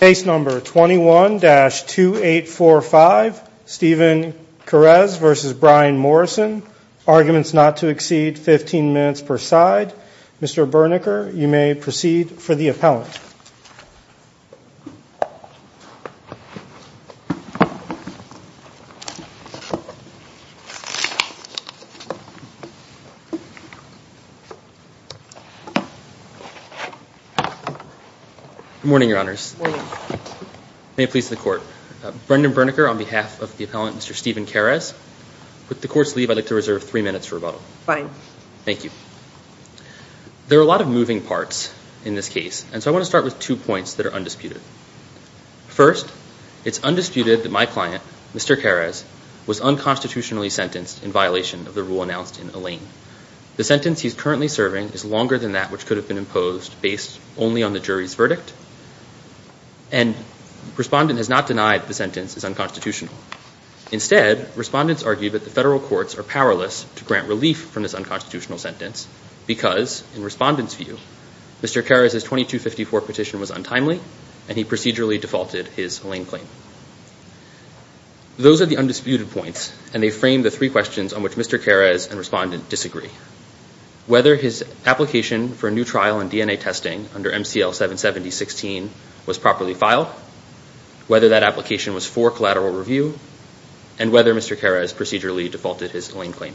Case number 21-2845, Stephen Kares v. Bryan Morrison. Arguments not to exceed 15 minutes per side. Mr. Bernecker, you may proceed for the appellant. Good morning, Your Honors. Good morning. May it please the Court. Brendan Bernecker on behalf of the appellant, Mr. Stephen Kares. With the Court's leave, I'd like to reserve three minutes for rebuttal. Fine. Thank you. There are a lot of moving parts in this case, and so I want to start with two points that are undisputed. First, it's undisputed that my client, Mr. Kares, was unconstitutionally sentenced in violation of the rule announced in Alain. The sentence he's currently serving is longer than that which could have been imposed based only on the jury's verdict. And the respondent has not denied the sentence is unconstitutional. Instead, respondents argue that the federal courts are powerless to grant relief from this unconstitutional sentence because, in respondents' view, Mr. Kares' 2254 petition was untimely, and he procedurally defaulted his Alain claim. Those are the undisputed points, and they frame the three questions on which Mr. Kares and respondent disagree. Whether his application for a new trial in DNA testing under MCL-770-16 was properly filed, whether that application was for collateral review, and whether Mr. Kares procedurally defaulted his Alain claim.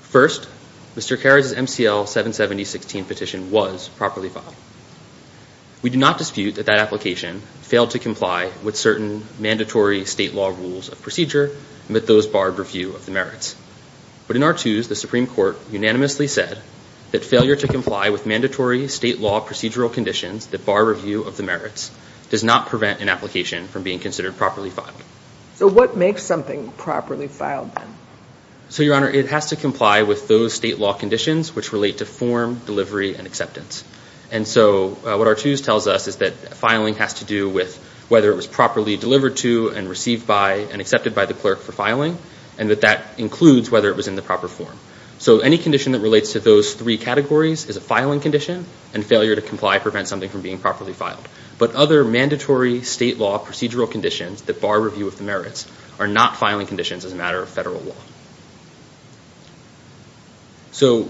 First, Mr. Kares' MCL-770-16 petition was properly filed. We do not dispute that that application failed to comply with certain mandatory state law rules of procedure, and that those barred review of the merits. But in our twos, the Supreme Court unanimously said that failure to comply with mandatory state law procedural conditions that bar review of the merits does not prevent an application from being considered properly filed. So what makes something properly filed, then? So, Your Honor, it has to comply with those state law conditions which relate to form, delivery, and acceptance. And so what our twos tells us is that filing has to do with whether it was properly delivered to, and received by, and accepted by the clerk for filing, and that that includes whether it was in the proper form. So any condition that relates to those three categories is a filing condition, and failure to comply prevents something from being properly filed. But other mandatory state law procedural conditions that bar review of the merits are not filing conditions as a matter of federal law. So,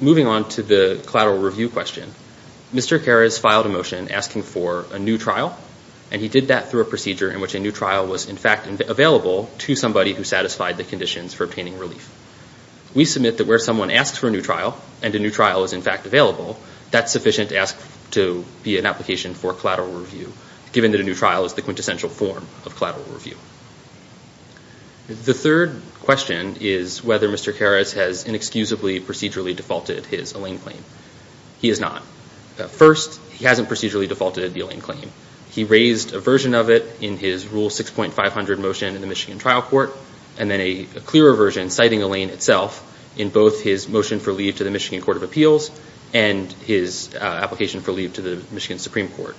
moving on to the collateral review question. Mr. Karas filed a motion asking for a new trial, and he did that through a procedure in which a new trial was in fact available to somebody who satisfied the conditions for obtaining relief. We submit that where someone asks for a new trial, and a new trial is in fact available, that's sufficient to ask to be an application for collateral review, given that a new trial is the quintessential form of collateral review. The third question is whether Mr. Karas has inexcusably procedurally defaulted his Allain claim. He has not. First, he hasn't procedurally defaulted the Allain claim. He raised a version of it in his Rule 6.500 motion in the Michigan trial court, and then a clearer version citing Allain itself in both his motion for leave to the Michigan Court of Appeals, and his application for leave to the Michigan Supreme Court.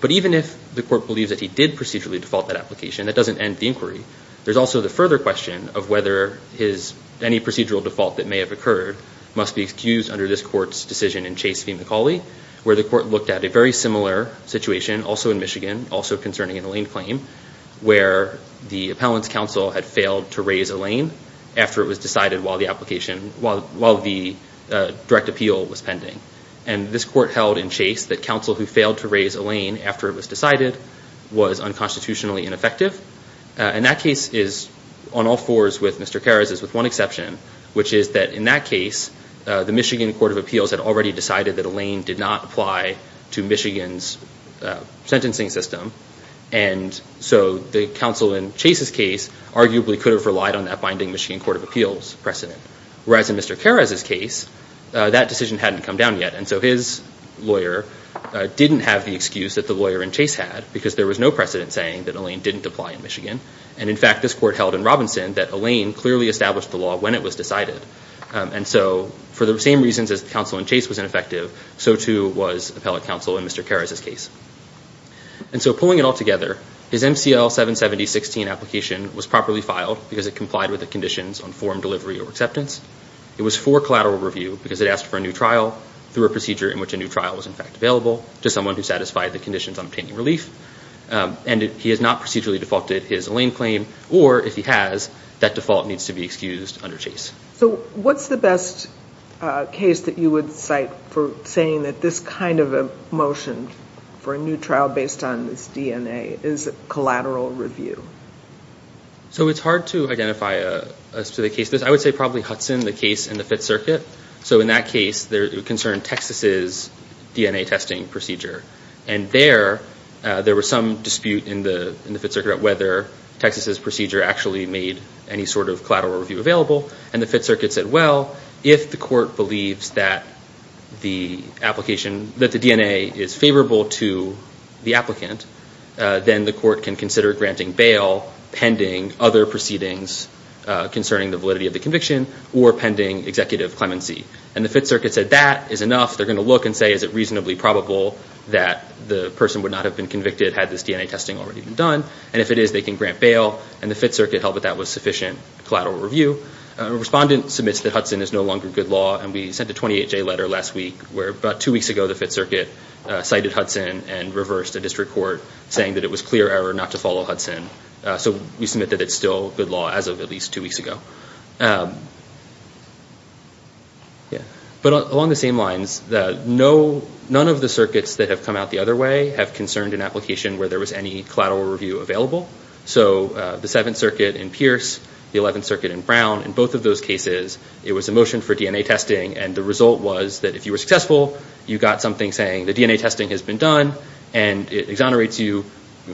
But even if the court believes that he did procedurally default that application, that doesn't end the inquiry. There's also the further question of whether any procedural default that may have occurred must be excused under this court's decision in Chase v. McCauley, where the court looked at a very similar situation, also in Michigan, also concerning an Allain claim, where the appellant's counsel had failed to raise Allain after it was decided while the direct appeal was pending. And this court held in Chase that counsel who failed to raise Allain after it was decided was unconstitutionally ineffective. And that case is, on all fours with Mr. Karas, is with one exception, which is that in that case the Michigan Court of Appeals had already decided that Allain did not apply to Michigan's sentencing system, and so the counsel in Chase's case arguably could have relied on that binding Michigan Court of Appeals precedent. Whereas in Mr. Karas' case, that decision hadn't come down yet, and so his lawyer didn't have the excuse that the lawyer in Chase had, because there was no precedent saying that Allain didn't apply in Michigan. And, in fact, this court held in Robinson that Allain clearly established the law when it was decided. And so for the same reasons as counsel in Chase was ineffective, so too was appellate counsel in Mr. Karas' case. And so pulling it all together, his MCL-770-16 application was properly filed because it complied with the conditions on form delivery or acceptance. It was for collateral review because it asked for a new trial through a procedure in which a new trial was, in fact, available to someone who satisfied the conditions on obtaining relief. And he has not procedurally defaulted his Allain claim, or, if he has, that default needs to be excused under Chase. So what's the best case that you would cite for saying that this kind of a motion for a new trial based on this DNA is collateral review? So it's hard to identify a specific case. I would say probably Hudson, the case in the Fifth Circuit. So in that case, it concerned Texas' DNA testing procedure. And there, there was some dispute in the Fifth Circuit about whether Texas' procedure actually made any sort of collateral review available. And the Fifth Circuit said, well, if the court believes that the DNA is favorable to the applicant, then the court can consider granting bail pending other proceedings concerning the validity of the conviction or pending executive clemency. And the Fifth Circuit said that is enough. They're going to look and say, is it reasonably probable that the person would not have been convicted had this DNA testing already been done? And if it is, they can grant bail. And the Fifth Circuit held that that was sufficient collateral review. A respondent submits that Hudson is no longer good law. And we sent a 28-J letter last week where about two weeks ago, the Fifth Circuit cited Hudson and reversed a district court saying that it was clear error not to follow Hudson. So we submit that it's still good law as of at least two weeks ago. But along the same lines, none of the circuits that have come out the other way have concerned an application where there was any collateral review available. So the Seventh Circuit in Pierce, the Eleventh Circuit in Brown, in both of those cases, it was a motion for DNA testing. And the result was that if you were successful, you got something saying the DNA testing has been done and it exonerates you.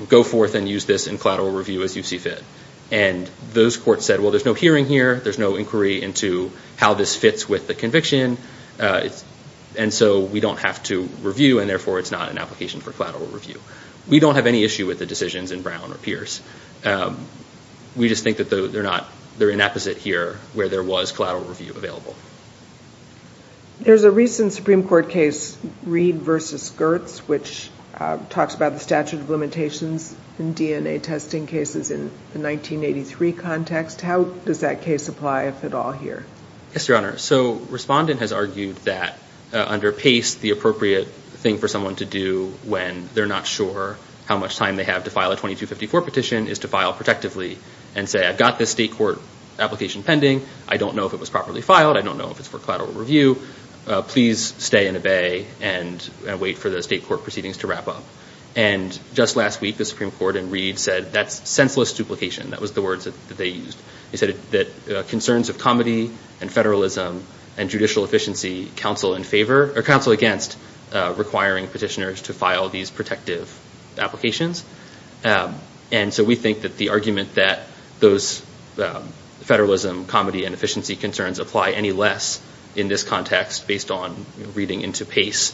Go forth and use this in collateral review as you see fit. And those courts said, well, there's no hearing here. There's no inquiry into how this fits with the conviction. And so we don't have to review, and therefore it's not an application for collateral review. We just think that they're inapposite here where there was collateral review available. There's a recent Supreme Court case, Reed v. Gertz, which talks about the statute of limitations in DNA testing cases in the 1983 context. How does that case apply, if at all, here? Yes, Your Honor. So Respondent has argued that under PACE, the appropriate thing for someone to do when they're not sure how much time they have to file a 2254 petition is to file protectively and say, I've got this state court application pending. I don't know if it was properly filed. I don't know if it's for collateral review. Please stay and obey and wait for the state court proceedings to wrap up. And just last week, the Supreme Court in Reed said that's senseless duplication. That was the words that they used. They said that concerns of comity and federalism and judicial efficiency counsel in favor of filing these protective applications. And so we think that the argument that those federalism, comity, and efficiency concerns apply any less in this context based on reading into PACE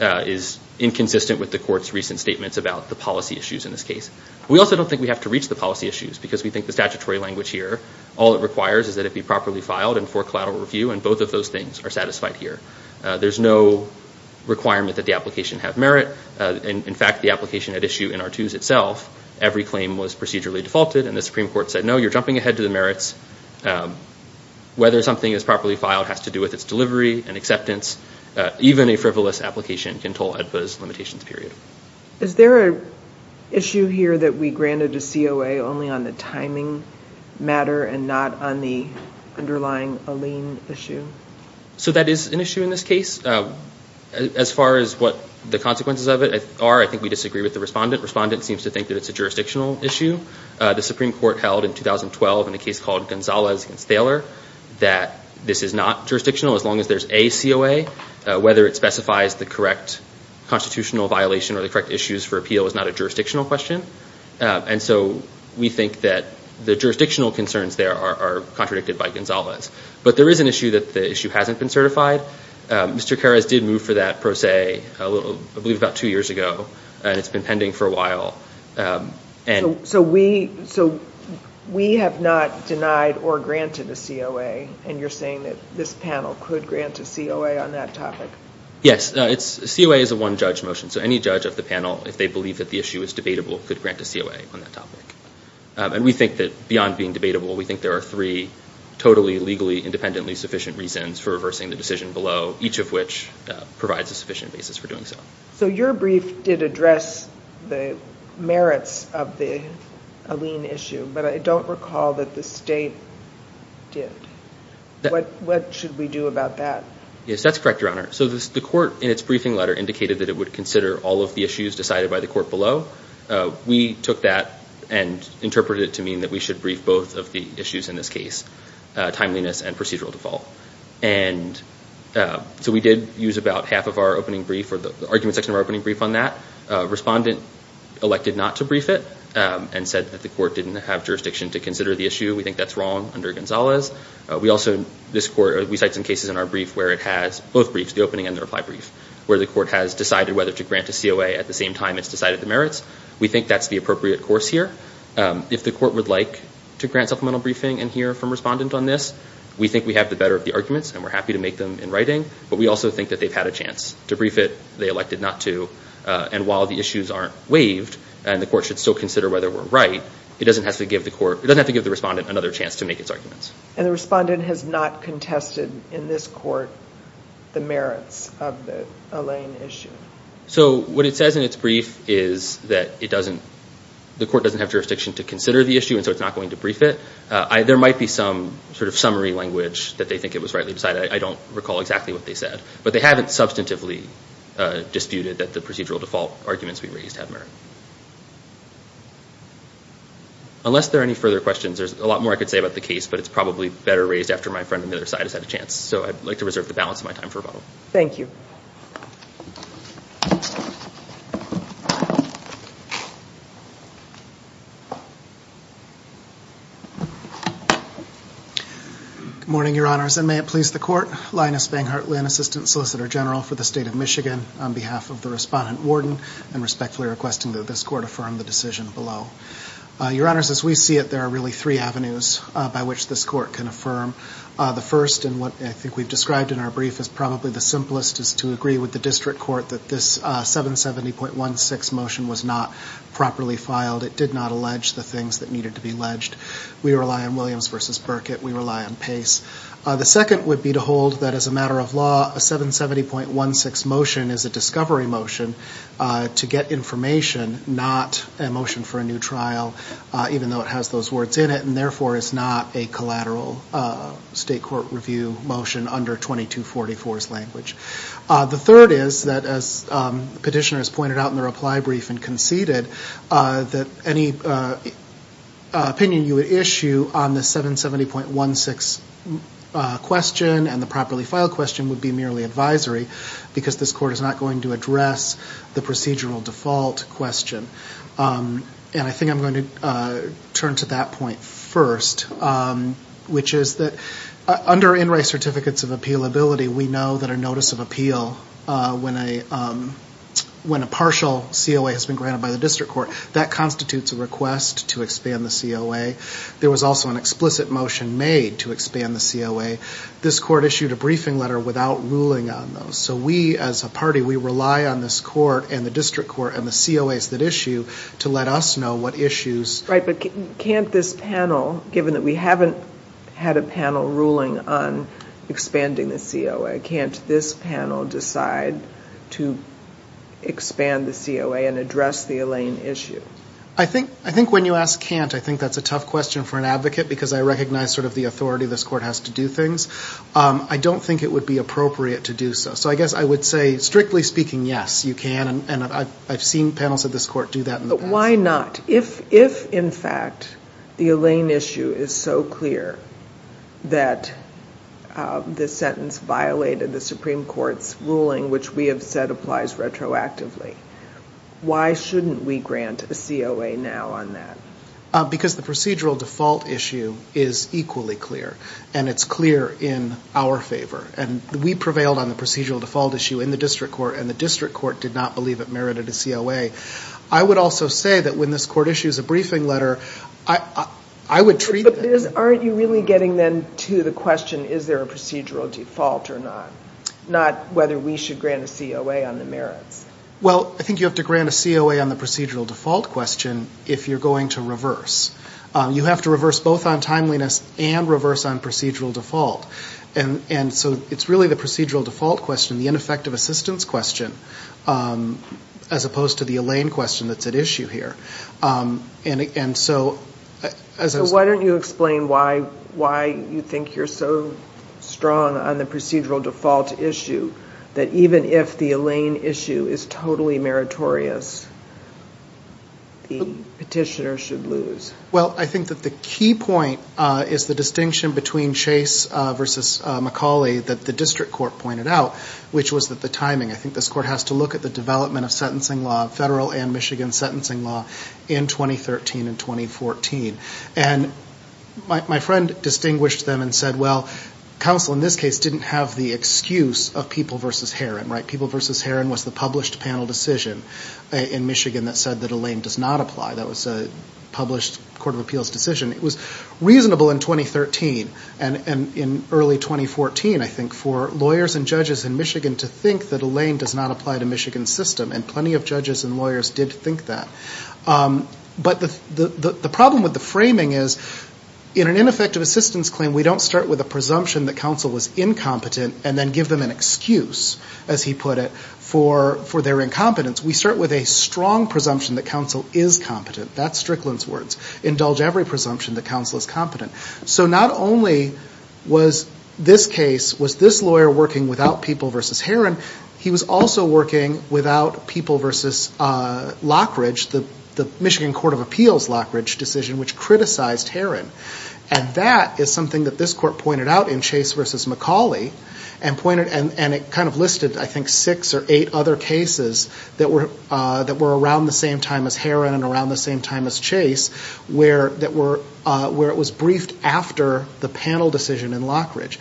is inconsistent with the court's recent statements about the policy issues in this case. We also don't think we have to reach the policy issues because we think the statutory language here, all it requires is that it be properly filed and for collateral review, and both of those things are satisfied here. There's no requirement that the application have merit. In fact, the application at issue in Artoos itself, every claim was procedurally defaulted, and the Supreme Court said, no, you're jumping ahead to the merits. Whether something is properly filed has to do with its delivery and acceptance. Even a frivolous application can toll AEDPA's limitations period. Is there an issue here that we granted to COA only on the timing matter and not on the underlying Allene issue? So that is an issue in this case. As far as what the consequences of it are, I think we disagree with the respondent. Respondent seems to think that it's a jurisdictional issue. The Supreme Court held in 2012 in a case called Gonzalez against Thaler that this is not jurisdictional as long as there's a COA, whether it specifies the correct constitutional violation or the correct issues for appeal is not a jurisdictional question. And so we think that the jurisdictional concerns there are contradicted by Gonzalez. But there is an issue that the issue hasn't been certified. Mr. Karas did move for that pro se, I believe about two years ago, and it's been pending for a while. So we have not denied or granted a COA, and you're saying that this panel could grant a COA on that topic? Yes. A COA is a one-judge motion, so any judge of the panel, if they believe that the issue is debatable, could grant a COA on that topic. And we think that beyond being debatable, we think there are three totally legally independently sufficient reasons for reversing the decision below, each of which provides a sufficient basis for doing so. So your brief did address the merits of the Alene issue, but I don't recall that the state did. What should we do about that? Yes, that's correct, Your Honor. So the court in its briefing letter indicated that it would consider all of the issues decided by the court below. We took that and interpreted it to mean that we should brief both of the issues in this case, timeliness and procedural default. And so we did use about half of our opening brief or the argument section of our opening brief on that. Respondent elected not to brief it and said that the court didn't have jurisdiction to consider the issue. We think that's wrong under Gonzalez. We also, this court, we cite some cases in our brief where it has both briefs, the opening and the reply brief, where the court has decided whether to grant a COA at the same time it's decided the merits. We think that's the appropriate course here. If the court would like to grant supplemental briefing and hear from respondent on this, we think we have the better of the arguments and we're happy to make them in writing, but we also think that they've had a chance to brief it, they elected not to, and while the issues aren't waived and the court should still consider whether we're right, it doesn't have to give the court, it doesn't have to give the respondent another chance to make its arguments. And the respondent has not contested in this court the merits of the Elaine issue. So what it says in its brief is that it doesn't, the court doesn't have jurisdiction to consider the issue and so it's not going to brief it. There might be some sort of summary language that they think it was rightly decided. I don't recall exactly what they said, but they haven't substantively disputed that the procedural default arguments we raised had merit. Unless there are any further questions, there's a lot more I could say about the case, but it's probably better raised after my friend on the other side has had a chance. So I'd like to reserve the balance of my time for rebuttal. Thank you. Good morning, Your Honors, and may it please the court, Linus Banghart Lynn, Assistant Solicitor General for the State of Michigan, on behalf of the respondent warden, and respectfully requesting that this court affirm the decision below. Your Honors, as we see it, there are really three avenues by which this court can affirm. The first, and what I think we've described in our brief, is probably the simplest is to agree with the district court that this 770.16 motion was not properly filed. It did not allege the things that needed to be alleged. We rely on Williams v. Burkitt. We rely on Pace. The second would be to hold that as a matter of law, a 770.16 motion is a discovery motion to get information, not a motion for a new trial, even though it has those words in it, and therefore is not a collateral state court review motion under 2244's language. The third is that, as the petitioner has pointed out in the reply brief and conceded, that any opinion you would issue on the 770.16 question and the properly filed question would be merely advisory because this court is not going to address the procedural default question. And I think I'm going to turn to that point first, which is that under NRAI certificates of appealability, we know that a notice of appeal when a partial COA has been granted by the district court, that constitutes a request to expand the COA. There was also an explicit motion made to expand the COA. This court issued a briefing letter without ruling on those. So we, as a party, we rely on this court and the district court and the COAs that issue to let us know what issues. Right, but can't this panel, given that we haven't had a panel ruling on expanding the COA, can't this panel decide to expand the COA and address the Elaine issue? I think when you ask can't, I think that's a tough question for an advocate because I recognize sort of the authority this court has to do things. I don't think it would be appropriate to do so. So I guess I would say, strictly speaking, yes, you can, and I've seen panels of this court do that in the past. But why not? If, in fact, the Elaine issue is so clear that this sentence violated the Supreme Court's ruling, which we have said applies retroactively, why shouldn't we grant a COA now on that? Because the procedural default issue is equally clear, and it's clear in our favor. And we prevailed on the procedural default issue in the district court, and the district court did not believe it merited a COA. I would also say that when this court issues a briefing letter, I would treat it. But aren't you really getting then to the question, is there a procedural default or not, not whether we should grant a COA on the merits? Well, I think you have to grant a COA on the procedural default question if you're going to reverse. You have to reverse both on timeliness and reverse on procedural default. And so it's really the procedural default question, the ineffective assistance question, as opposed to the Elaine question that's at issue here. So why don't you explain why you think you're so strong on the procedural default issue, that even if the Elaine issue is totally meritorious, the petitioner should lose? Well, I think that the key point is the distinction between Chase v. McCauley that the district court pointed out, which was the timing. I think this court has to look at the development of sentencing law, federal and Michigan sentencing law, in 2013 and 2014. And my friend distinguished them and said, well, the council in this case didn't have the excuse of People v. Herron, right? People v. Herron was the published panel decision in Michigan that said that Elaine does not apply. That was a published court of appeals decision. It was reasonable in 2013 and in early 2014, I think, for lawyers and judges in Michigan to think that Elaine does not apply to Michigan's system. And plenty of judges and lawyers did think that. But the problem with the framing is, in an ineffective assistance claim, when we don't start with a presumption that counsel was incompetent and then give them an excuse, as he put it, for their incompetence, we start with a strong presumption that counsel is competent. That's Strickland's words. Indulge every presumption that counsel is competent. So not only was this case, was this lawyer working without People v. Herron, he was also working without People v. Lockridge, the Michigan court of appeals Lockridge decision, which criticized Herron. And that is something that this court pointed out in Chase v. McCauley and it kind of listed, I think, six or eight other cases that were around the same time as Herron and around the same time as Chase where it was briefed after the panel decision in Lockridge.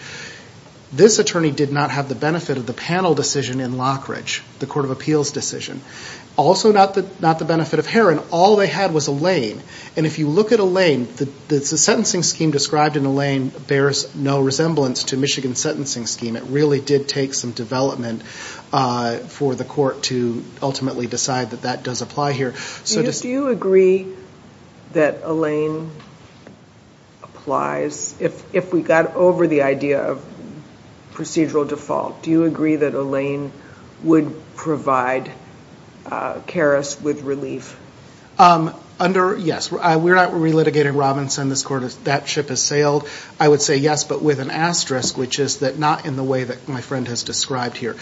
This attorney did not have the benefit of the panel decision in Lockridge, the court of appeals decision. Also not the benefit of Herron. All they had was Elaine. And if you look at Elaine, the sentencing scheme described in Elaine bears no resemblance to Michigan's sentencing scheme. It really did take some development for the court to ultimately decide that that does apply here. Do you agree that Elaine applies? If we got over the idea of procedural default, do you agree that Elaine would provide Karras with relief? Yes. We're not relitigating Robinson. That ship has sailed. I would say yes, but with an asterisk, which is that not in the way that my friend has described here.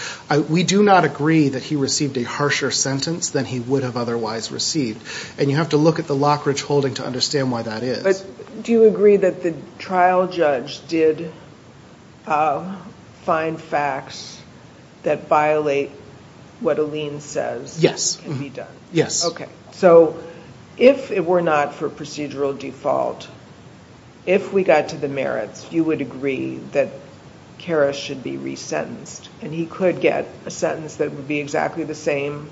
We do not agree that he received a harsher sentence than he would have otherwise received. And you have to look at the Lockridge holding to understand why that is. Do you agree that the trial judge did find facts that violate what Elaine says can be done? Yes. So if it were not for procedural default, if we got to the merits, you would agree that Karras should be resentenced. And he could get a sentence that would be exactly the same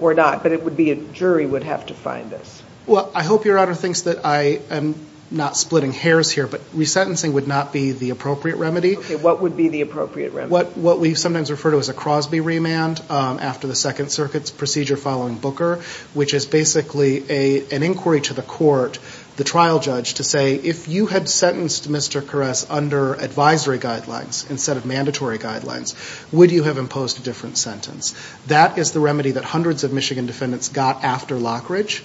or not, but it would be a jury would have to find this. Well, I hope Your Honor thinks that I am not splitting hairs here, but resentencing would not be the appropriate remedy. What would be the appropriate remedy? What we sometimes refer to as a Crosby remand after the Second Circuit's procedure following Booker, which is basically an inquiry to the court, the trial judge, to say, if you had sentenced Mr. Karras under advisory guidelines instead of mandatory guidelines, would you have imposed a different sentence? That is the remedy that hundreds of Michigan defendants got after Lockridge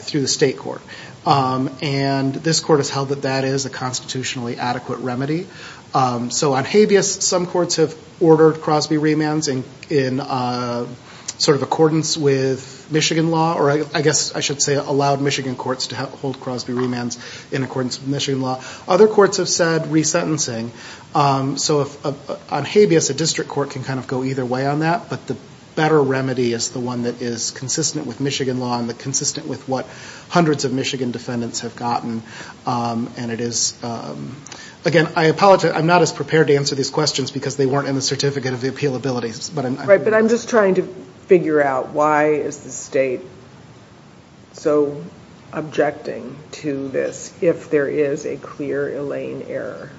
through the state court. And this court has held that that is a constitutionally adequate remedy. So on habeas, some courts have ordered Crosby remands in sort of accordance with Michigan law, or I guess I should say allowed Michigan courts to hold Crosby remands in accordance with Michigan law. Other courts have said resentencing. So on habeas, a district court can kind of go either way on that, but the better remedy is the one that is consistent with Michigan law and consistent with what hundreds of Michigan defendants have gotten. Again, I apologize. I'm not as prepared to answer these questions because they weren't in the Certificate of the Appeal Abilities. Right, but I'm just trying to figure out why is the state so objecting to this if there is a clear Elaine error?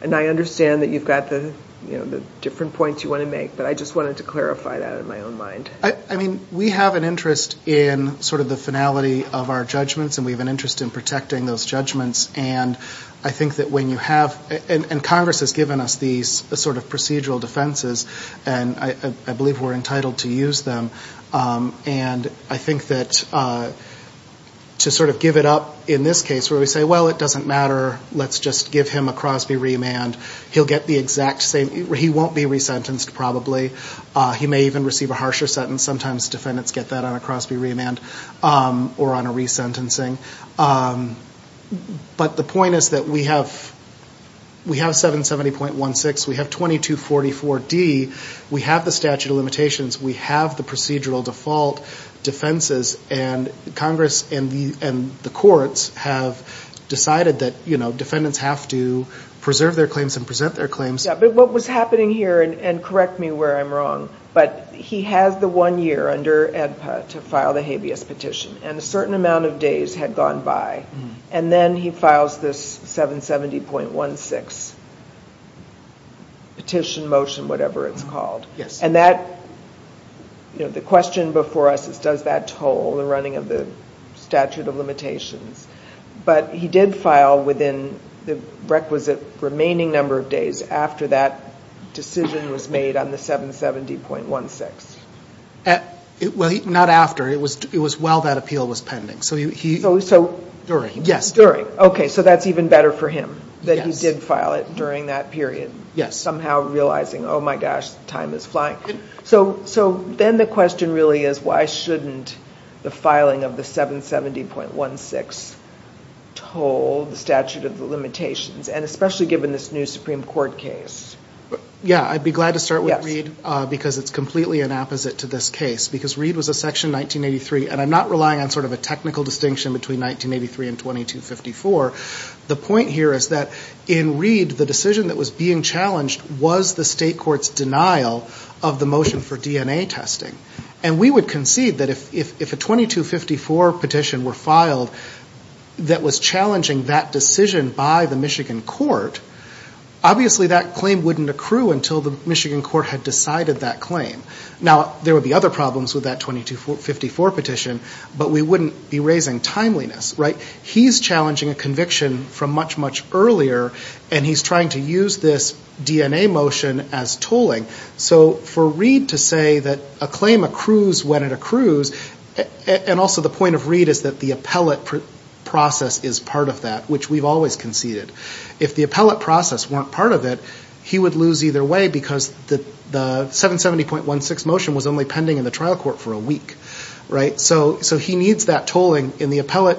And I understand that you've got the different points you want to make, but I just wanted to clarify that in my own mind. I mean, we have an interest in sort of the finality of our judgments, and we have an interest in protecting those judgments. And I think that when you have – and Congress has given us these sort of procedural defenses, and I believe we're entitled to use them. And I think that to sort of give it up in this case where we say, well, it doesn't matter, let's just give him a Crosby remand, he'll get the exact same – he won't be resentenced probably. He may even receive a harsher sentence. Sometimes defendants get that on a Crosby remand or on a resentencing. But the point is that we have 770.16. We have 2244D. We have the statute of limitations. We have the procedural default defenses. And Congress and the courts have decided that defendants have to preserve their claims and present their claims. But what was happening here, and correct me where I'm wrong, but he has the one year under AEDPA to file the habeas petition, and a certain amount of days had gone by. And then he files this 770.16 petition, motion, whatever it's called. And that – the question before us is does that toll the running of the statute of limitations? But he did file within the requisite remaining number of days after that decision was made on the 770.16. Well, not after. It was while that appeal was pending. So he – So – During, yes. During. Okay, so that's even better for him that he did file it during that period. Yes. Somehow realizing, oh, my gosh, time is flying. So then the question really is why shouldn't the filing of the 770.16 toll the statute of the limitations, and especially given this new Supreme Court case? Yeah, I'd be glad to start with Reid because it's completely an opposite to this case. Because Reid was a section 1983, and I'm not relying on sort of a technical distinction between 1983 and 2254. The point here is that in Reid the decision that was being challenged was the state court's denial of the motion for DNA testing. And we would concede that if a 2254 petition were filed that was challenging that decision by the Michigan court, obviously that claim wouldn't accrue until the Michigan court had decided that claim. Now, there would be other problems with that 2254 petition, but we wouldn't be raising timeliness, right? He's challenging a conviction from much, much earlier, and he's trying to use this DNA motion as tolling. So for Reid to say that a claim accrues when it accrues, and also the point of Reid is that the appellate process is part of that, which we've always conceded. If the appellate process weren't part of it, he would lose either way because the 770.16 motion was only pending in the trial court for a week. So he needs that tolling in the appellate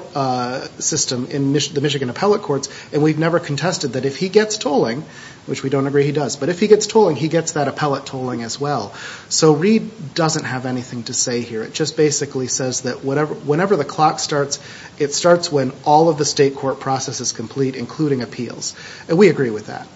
system in the Michigan appellate courts, and we've never contested that if he gets tolling, which we don't agree he does, but if he gets tolling, he gets that appellate tolling as well. So Reid doesn't have anything to say here. It just basically says that whenever the clock starts, it starts when all of the state court process is complete, including appeals. And we agree with that.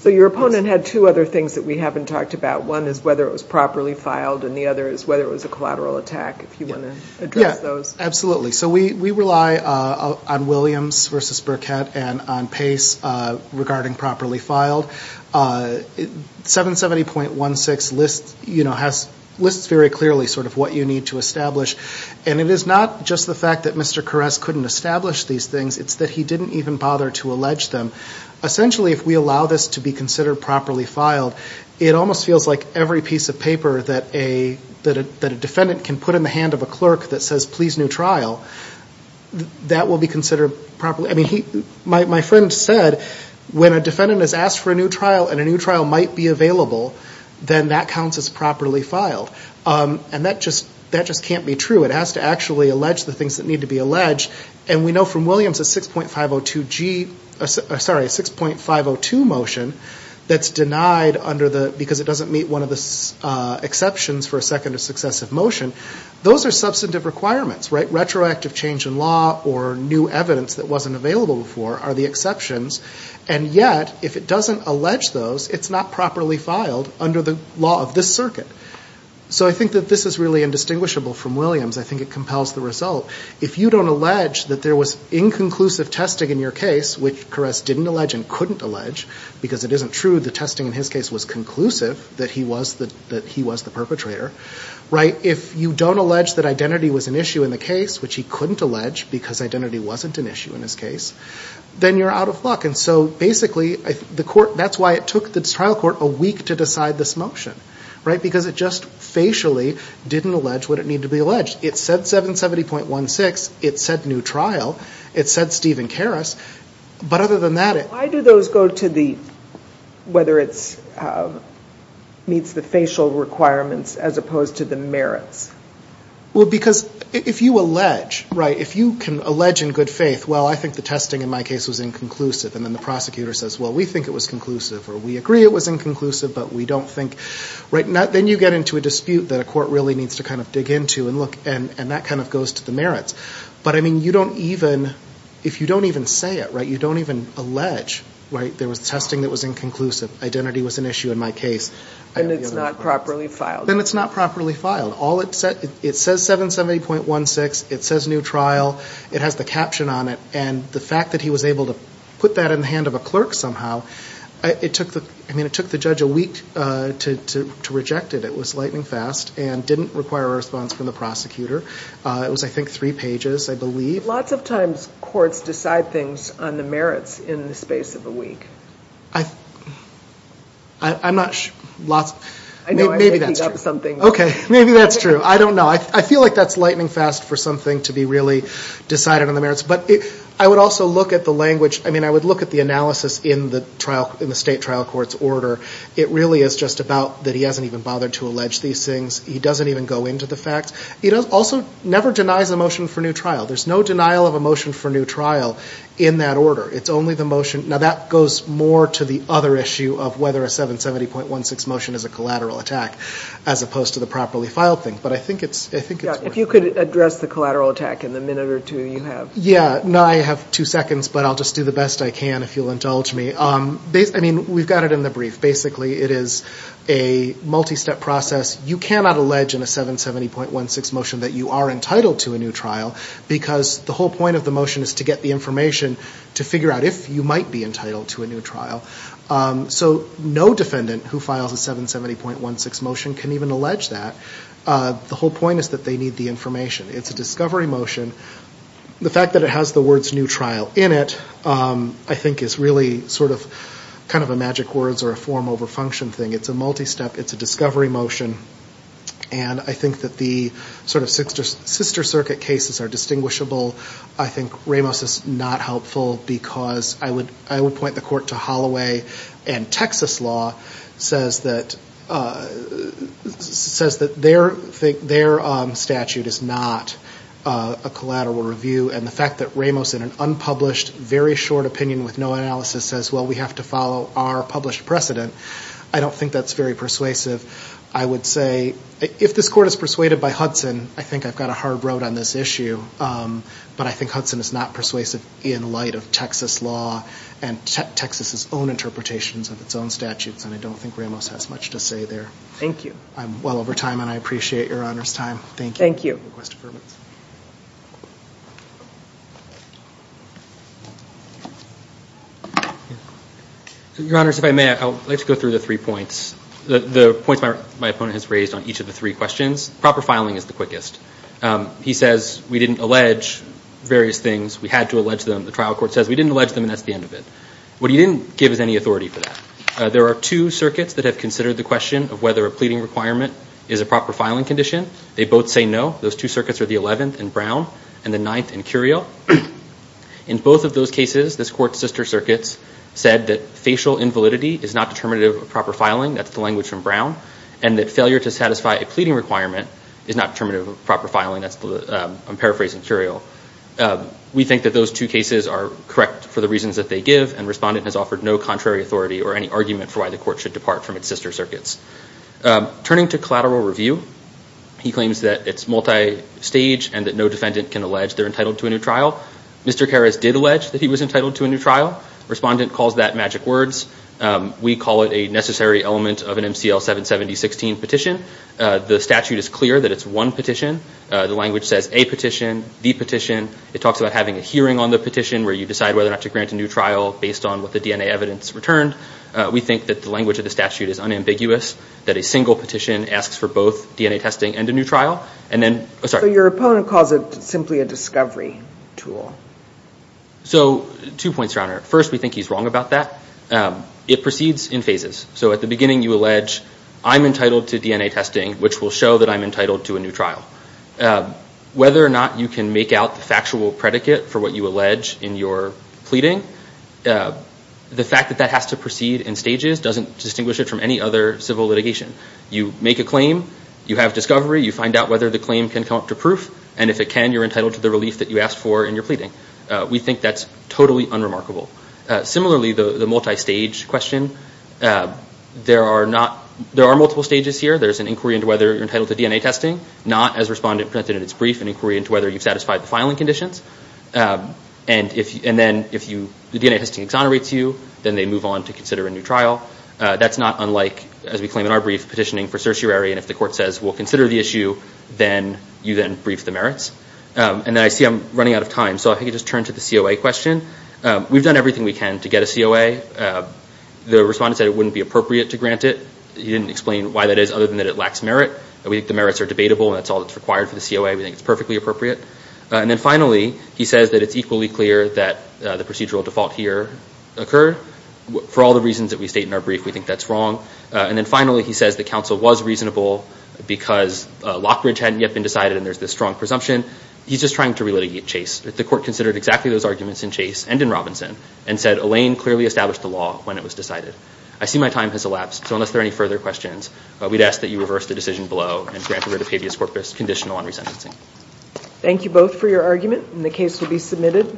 So your opponent had two other things that we haven't talked about. One is whether it was properly filed, and the other is whether it was a collateral attack, if you want to address those. Yeah, absolutely. So we rely on Williams v. Burkett and on Pace regarding properly filed. 770.16 lists very clearly sort of what you need to establish, and it is not just the fact that Mr. Koress couldn't establish these things. It's that he didn't even bother to allege them. Essentially, if we allow this to be considered properly filed, it almost feels like every piece of paper that a defendant can put in the hand of a clerk that says, please, new trial, that will be considered properly. I mean, my friend said when a defendant has asked for a new trial and a new trial might be available, then that counts as properly filed. And that just can't be true. It has to actually allege the things that need to be alleged. And we know from Williams a 6.502 motion that's denied because it doesn't meet one of the exceptions for a second or successive motion. Those are substantive requirements, right? Retroactive change in law or new evidence that wasn't available before are the exceptions. And yet, if it doesn't allege those, it's not properly filed under the law of this circuit. So I think that this is really indistinguishable from Williams. I think it compels the result. If you don't allege that there was inconclusive testing in your case, which Koress didn't allege and couldn't allege because it isn't true the testing in his case was conclusive that he was the perpetrator, if you don't allege that identity was an issue in the case, which he couldn't allege because identity wasn't an issue in his case, then you're out of luck. And so basically, that's why it took the trial court a week to decide this motion. Right? Because it just facially didn't allege what it needed to be alleged. It said 770.16. It said new trial. It said Stephen Karas. But other than that, it... Why do those go to the... whether it meets the facial requirements as opposed to the merits? Well, because if you allege, right, if you can allege in good faith, well, I think the testing in my case was inconclusive, and then the prosecutor says, well, we think it was conclusive or we agree it was inconclusive, but we don't think... Right? Then you get into a dispute that a court really needs to kind of dig into and look, and that kind of goes to the merits. But, I mean, you don't even... If you don't even say it, right, you don't even allege, right, there was testing that was inconclusive, identity was an issue in my case. And it's not properly filed. And it's not properly filed. It says 770.16. It says new trial. It has the caption on it. And the fact that he was able to put that in the hand of a clerk somehow, I mean, it took the judge a week to reject it. It was lightning fast and didn't require a response from the prosecutor. It was, I think, three pages, I believe. Lots of times courts decide things on the merits in the space of a week. I'm not sure. Maybe that's true. Okay. Maybe that's true. I don't know. I feel like that's lightning fast for something to be really decided on the merits. But I would also look at the language. In the state trial court's order, it really is just about that he hasn't even bothered to allege these things. He doesn't even go into the facts. He also never denies a motion for new trial. There's no denial of a motion for new trial in that order. It's only the motion. Now, that goes more to the other issue of whether a 770.16 motion is a collateral attack, as opposed to the properly filed thing. But I think it's worth it. Yeah, if you could address the collateral attack in the minute or two you have. Yeah. No, I have two seconds, but I'll just do the best I can if you'll indulge me. I mean, we've got it in the brief. Basically, it is a multi-step process. You cannot allege in a 770.16 motion that you are entitled to a new trial because the whole point of the motion is to get the information to figure out if you might be entitled to a new trial. So no defendant who files a 770.16 motion can even allege that. The whole point is that they need the information. It's a discovery motion. The fact that it has the words new trial in it I think is really sort of kind of a magic words or a form over function thing. It's a multi-step. It's a discovery motion. And I think that the sort of sister circuit cases are distinguishable. I think Ramos is not helpful because I would point the court to Holloway and Texas law says that their statute is not a collateral review. And the fact that Ramos in an unpublished, very short opinion with no analysis says, well, we have to follow our published precedent, I don't think that's very persuasive. I would say if this court is persuaded by Hudson, I think I've got a hard road on this issue. But I think Hudson is not persuasive in light of Texas law and Texas' own interpretations of its own statutes. And I don't think Ramos has much to say there. Thank you. I'm well over time, and I appreciate Your Honor's time. Thank you. Thank you. Request affirmation. Your Honors, if I may, I would like to go through the three points. The points my opponent has raised on each of the three questions, proper filing is the quickest. He says we didn't allege various things. We had to allege them. The trial court says we didn't allege them, and that's the end of it. What he didn't give is any authority for that. There are two circuits that have considered the question of whether a pleading requirement is a proper filing condition. They both say no. Those two circuits are the 11th in Brown and the 9th in Curiel. In both of those cases, this court's sister circuits said that facial invalidity is not determinative of proper filing. That's the language from Brown. And that failure to satisfy a pleading requirement is not determinative of proper filing. I'm paraphrasing Curiel. We think that those two cases are correct for the reasons that they give, and Respondent has offered no contrary authority or any argument for why the court should depart from its sister circuits. Turning to collateral review, he claims that it's multistage and that no defendant can allege they're entitled to a new trial. Mr. Karas did allege that he was entitled to a new trial. Respondent calls that magic words. We call it a necessary element of an MCL 770-16 petition. The statute is clear that it's one petition. The language says a petition, the petition. It talks about having a hearing on the petition where you decide whether or not to grant a new trial based on what the DNA evidence returned. We think that the language of the statute is unambiguous, that a single petition asks for both DNA testing and a new trial. So your opponent calls it simply a discovery tool. So two points, Your Honor. First, we think he's wrong about that. It proceeds in phases. So at the beginning you allege, I'm entitled to DNA testing, which will show that I'm entitled to a new trial. Whether or not you can make out the factual predicate for what you allege in your pleading, the fact that that has to proceed in stages doesn't distinguish it from any other civil litigation. You make a claim, you have discovery, you find out whether the claim can come up to proof, and if it can, you're entitled to the relief that you asked for in your pleading. We think that's totally unremarkable. Similarly, the multi-stage question, there are multiple stages here. There's an inquiry into whether you're entitled to DNA testing, not, as the respondent presented in its brief, an inquiry into whether you've satisfied the filing conditions. And then if the DNA testing exonerates you, then they move on to consider a new trial. That's not unlike, as we claim in our brief, petitioning for certiorari, and if the court says we'll consider the issue, then you then brief the merits. And then I see I'm running out of time, so if I could just turn to the COA question. We've done everything we can to get a COA. The respondent said it wouldn't be appropriate to grant it. He didn't explain why that is other than that it lacks merit. We think the merits are debatable and that's all that's required for the COA. We think it's perfectly appropriate. And then finally, he says that it's equally clear that the procedural default here occurred. For all the reasons that we state in our brief, we think that's wrong. And then finally, he says the counsel was reasonable because Lockbridge hadn't yet been decided and there's this strong presumption. He's just trying to relitigate Chase. The court considered exactly those arguments in Chase and in Robinson and said Elaine clearly established the law when it was decided. I see my time has elapsed, so unless there are any further questions, we'd ask that you reverse the decision below and grant a writ of habeas corpus conditional on resentencing. Thank you both for your argument, and the case will be submitted.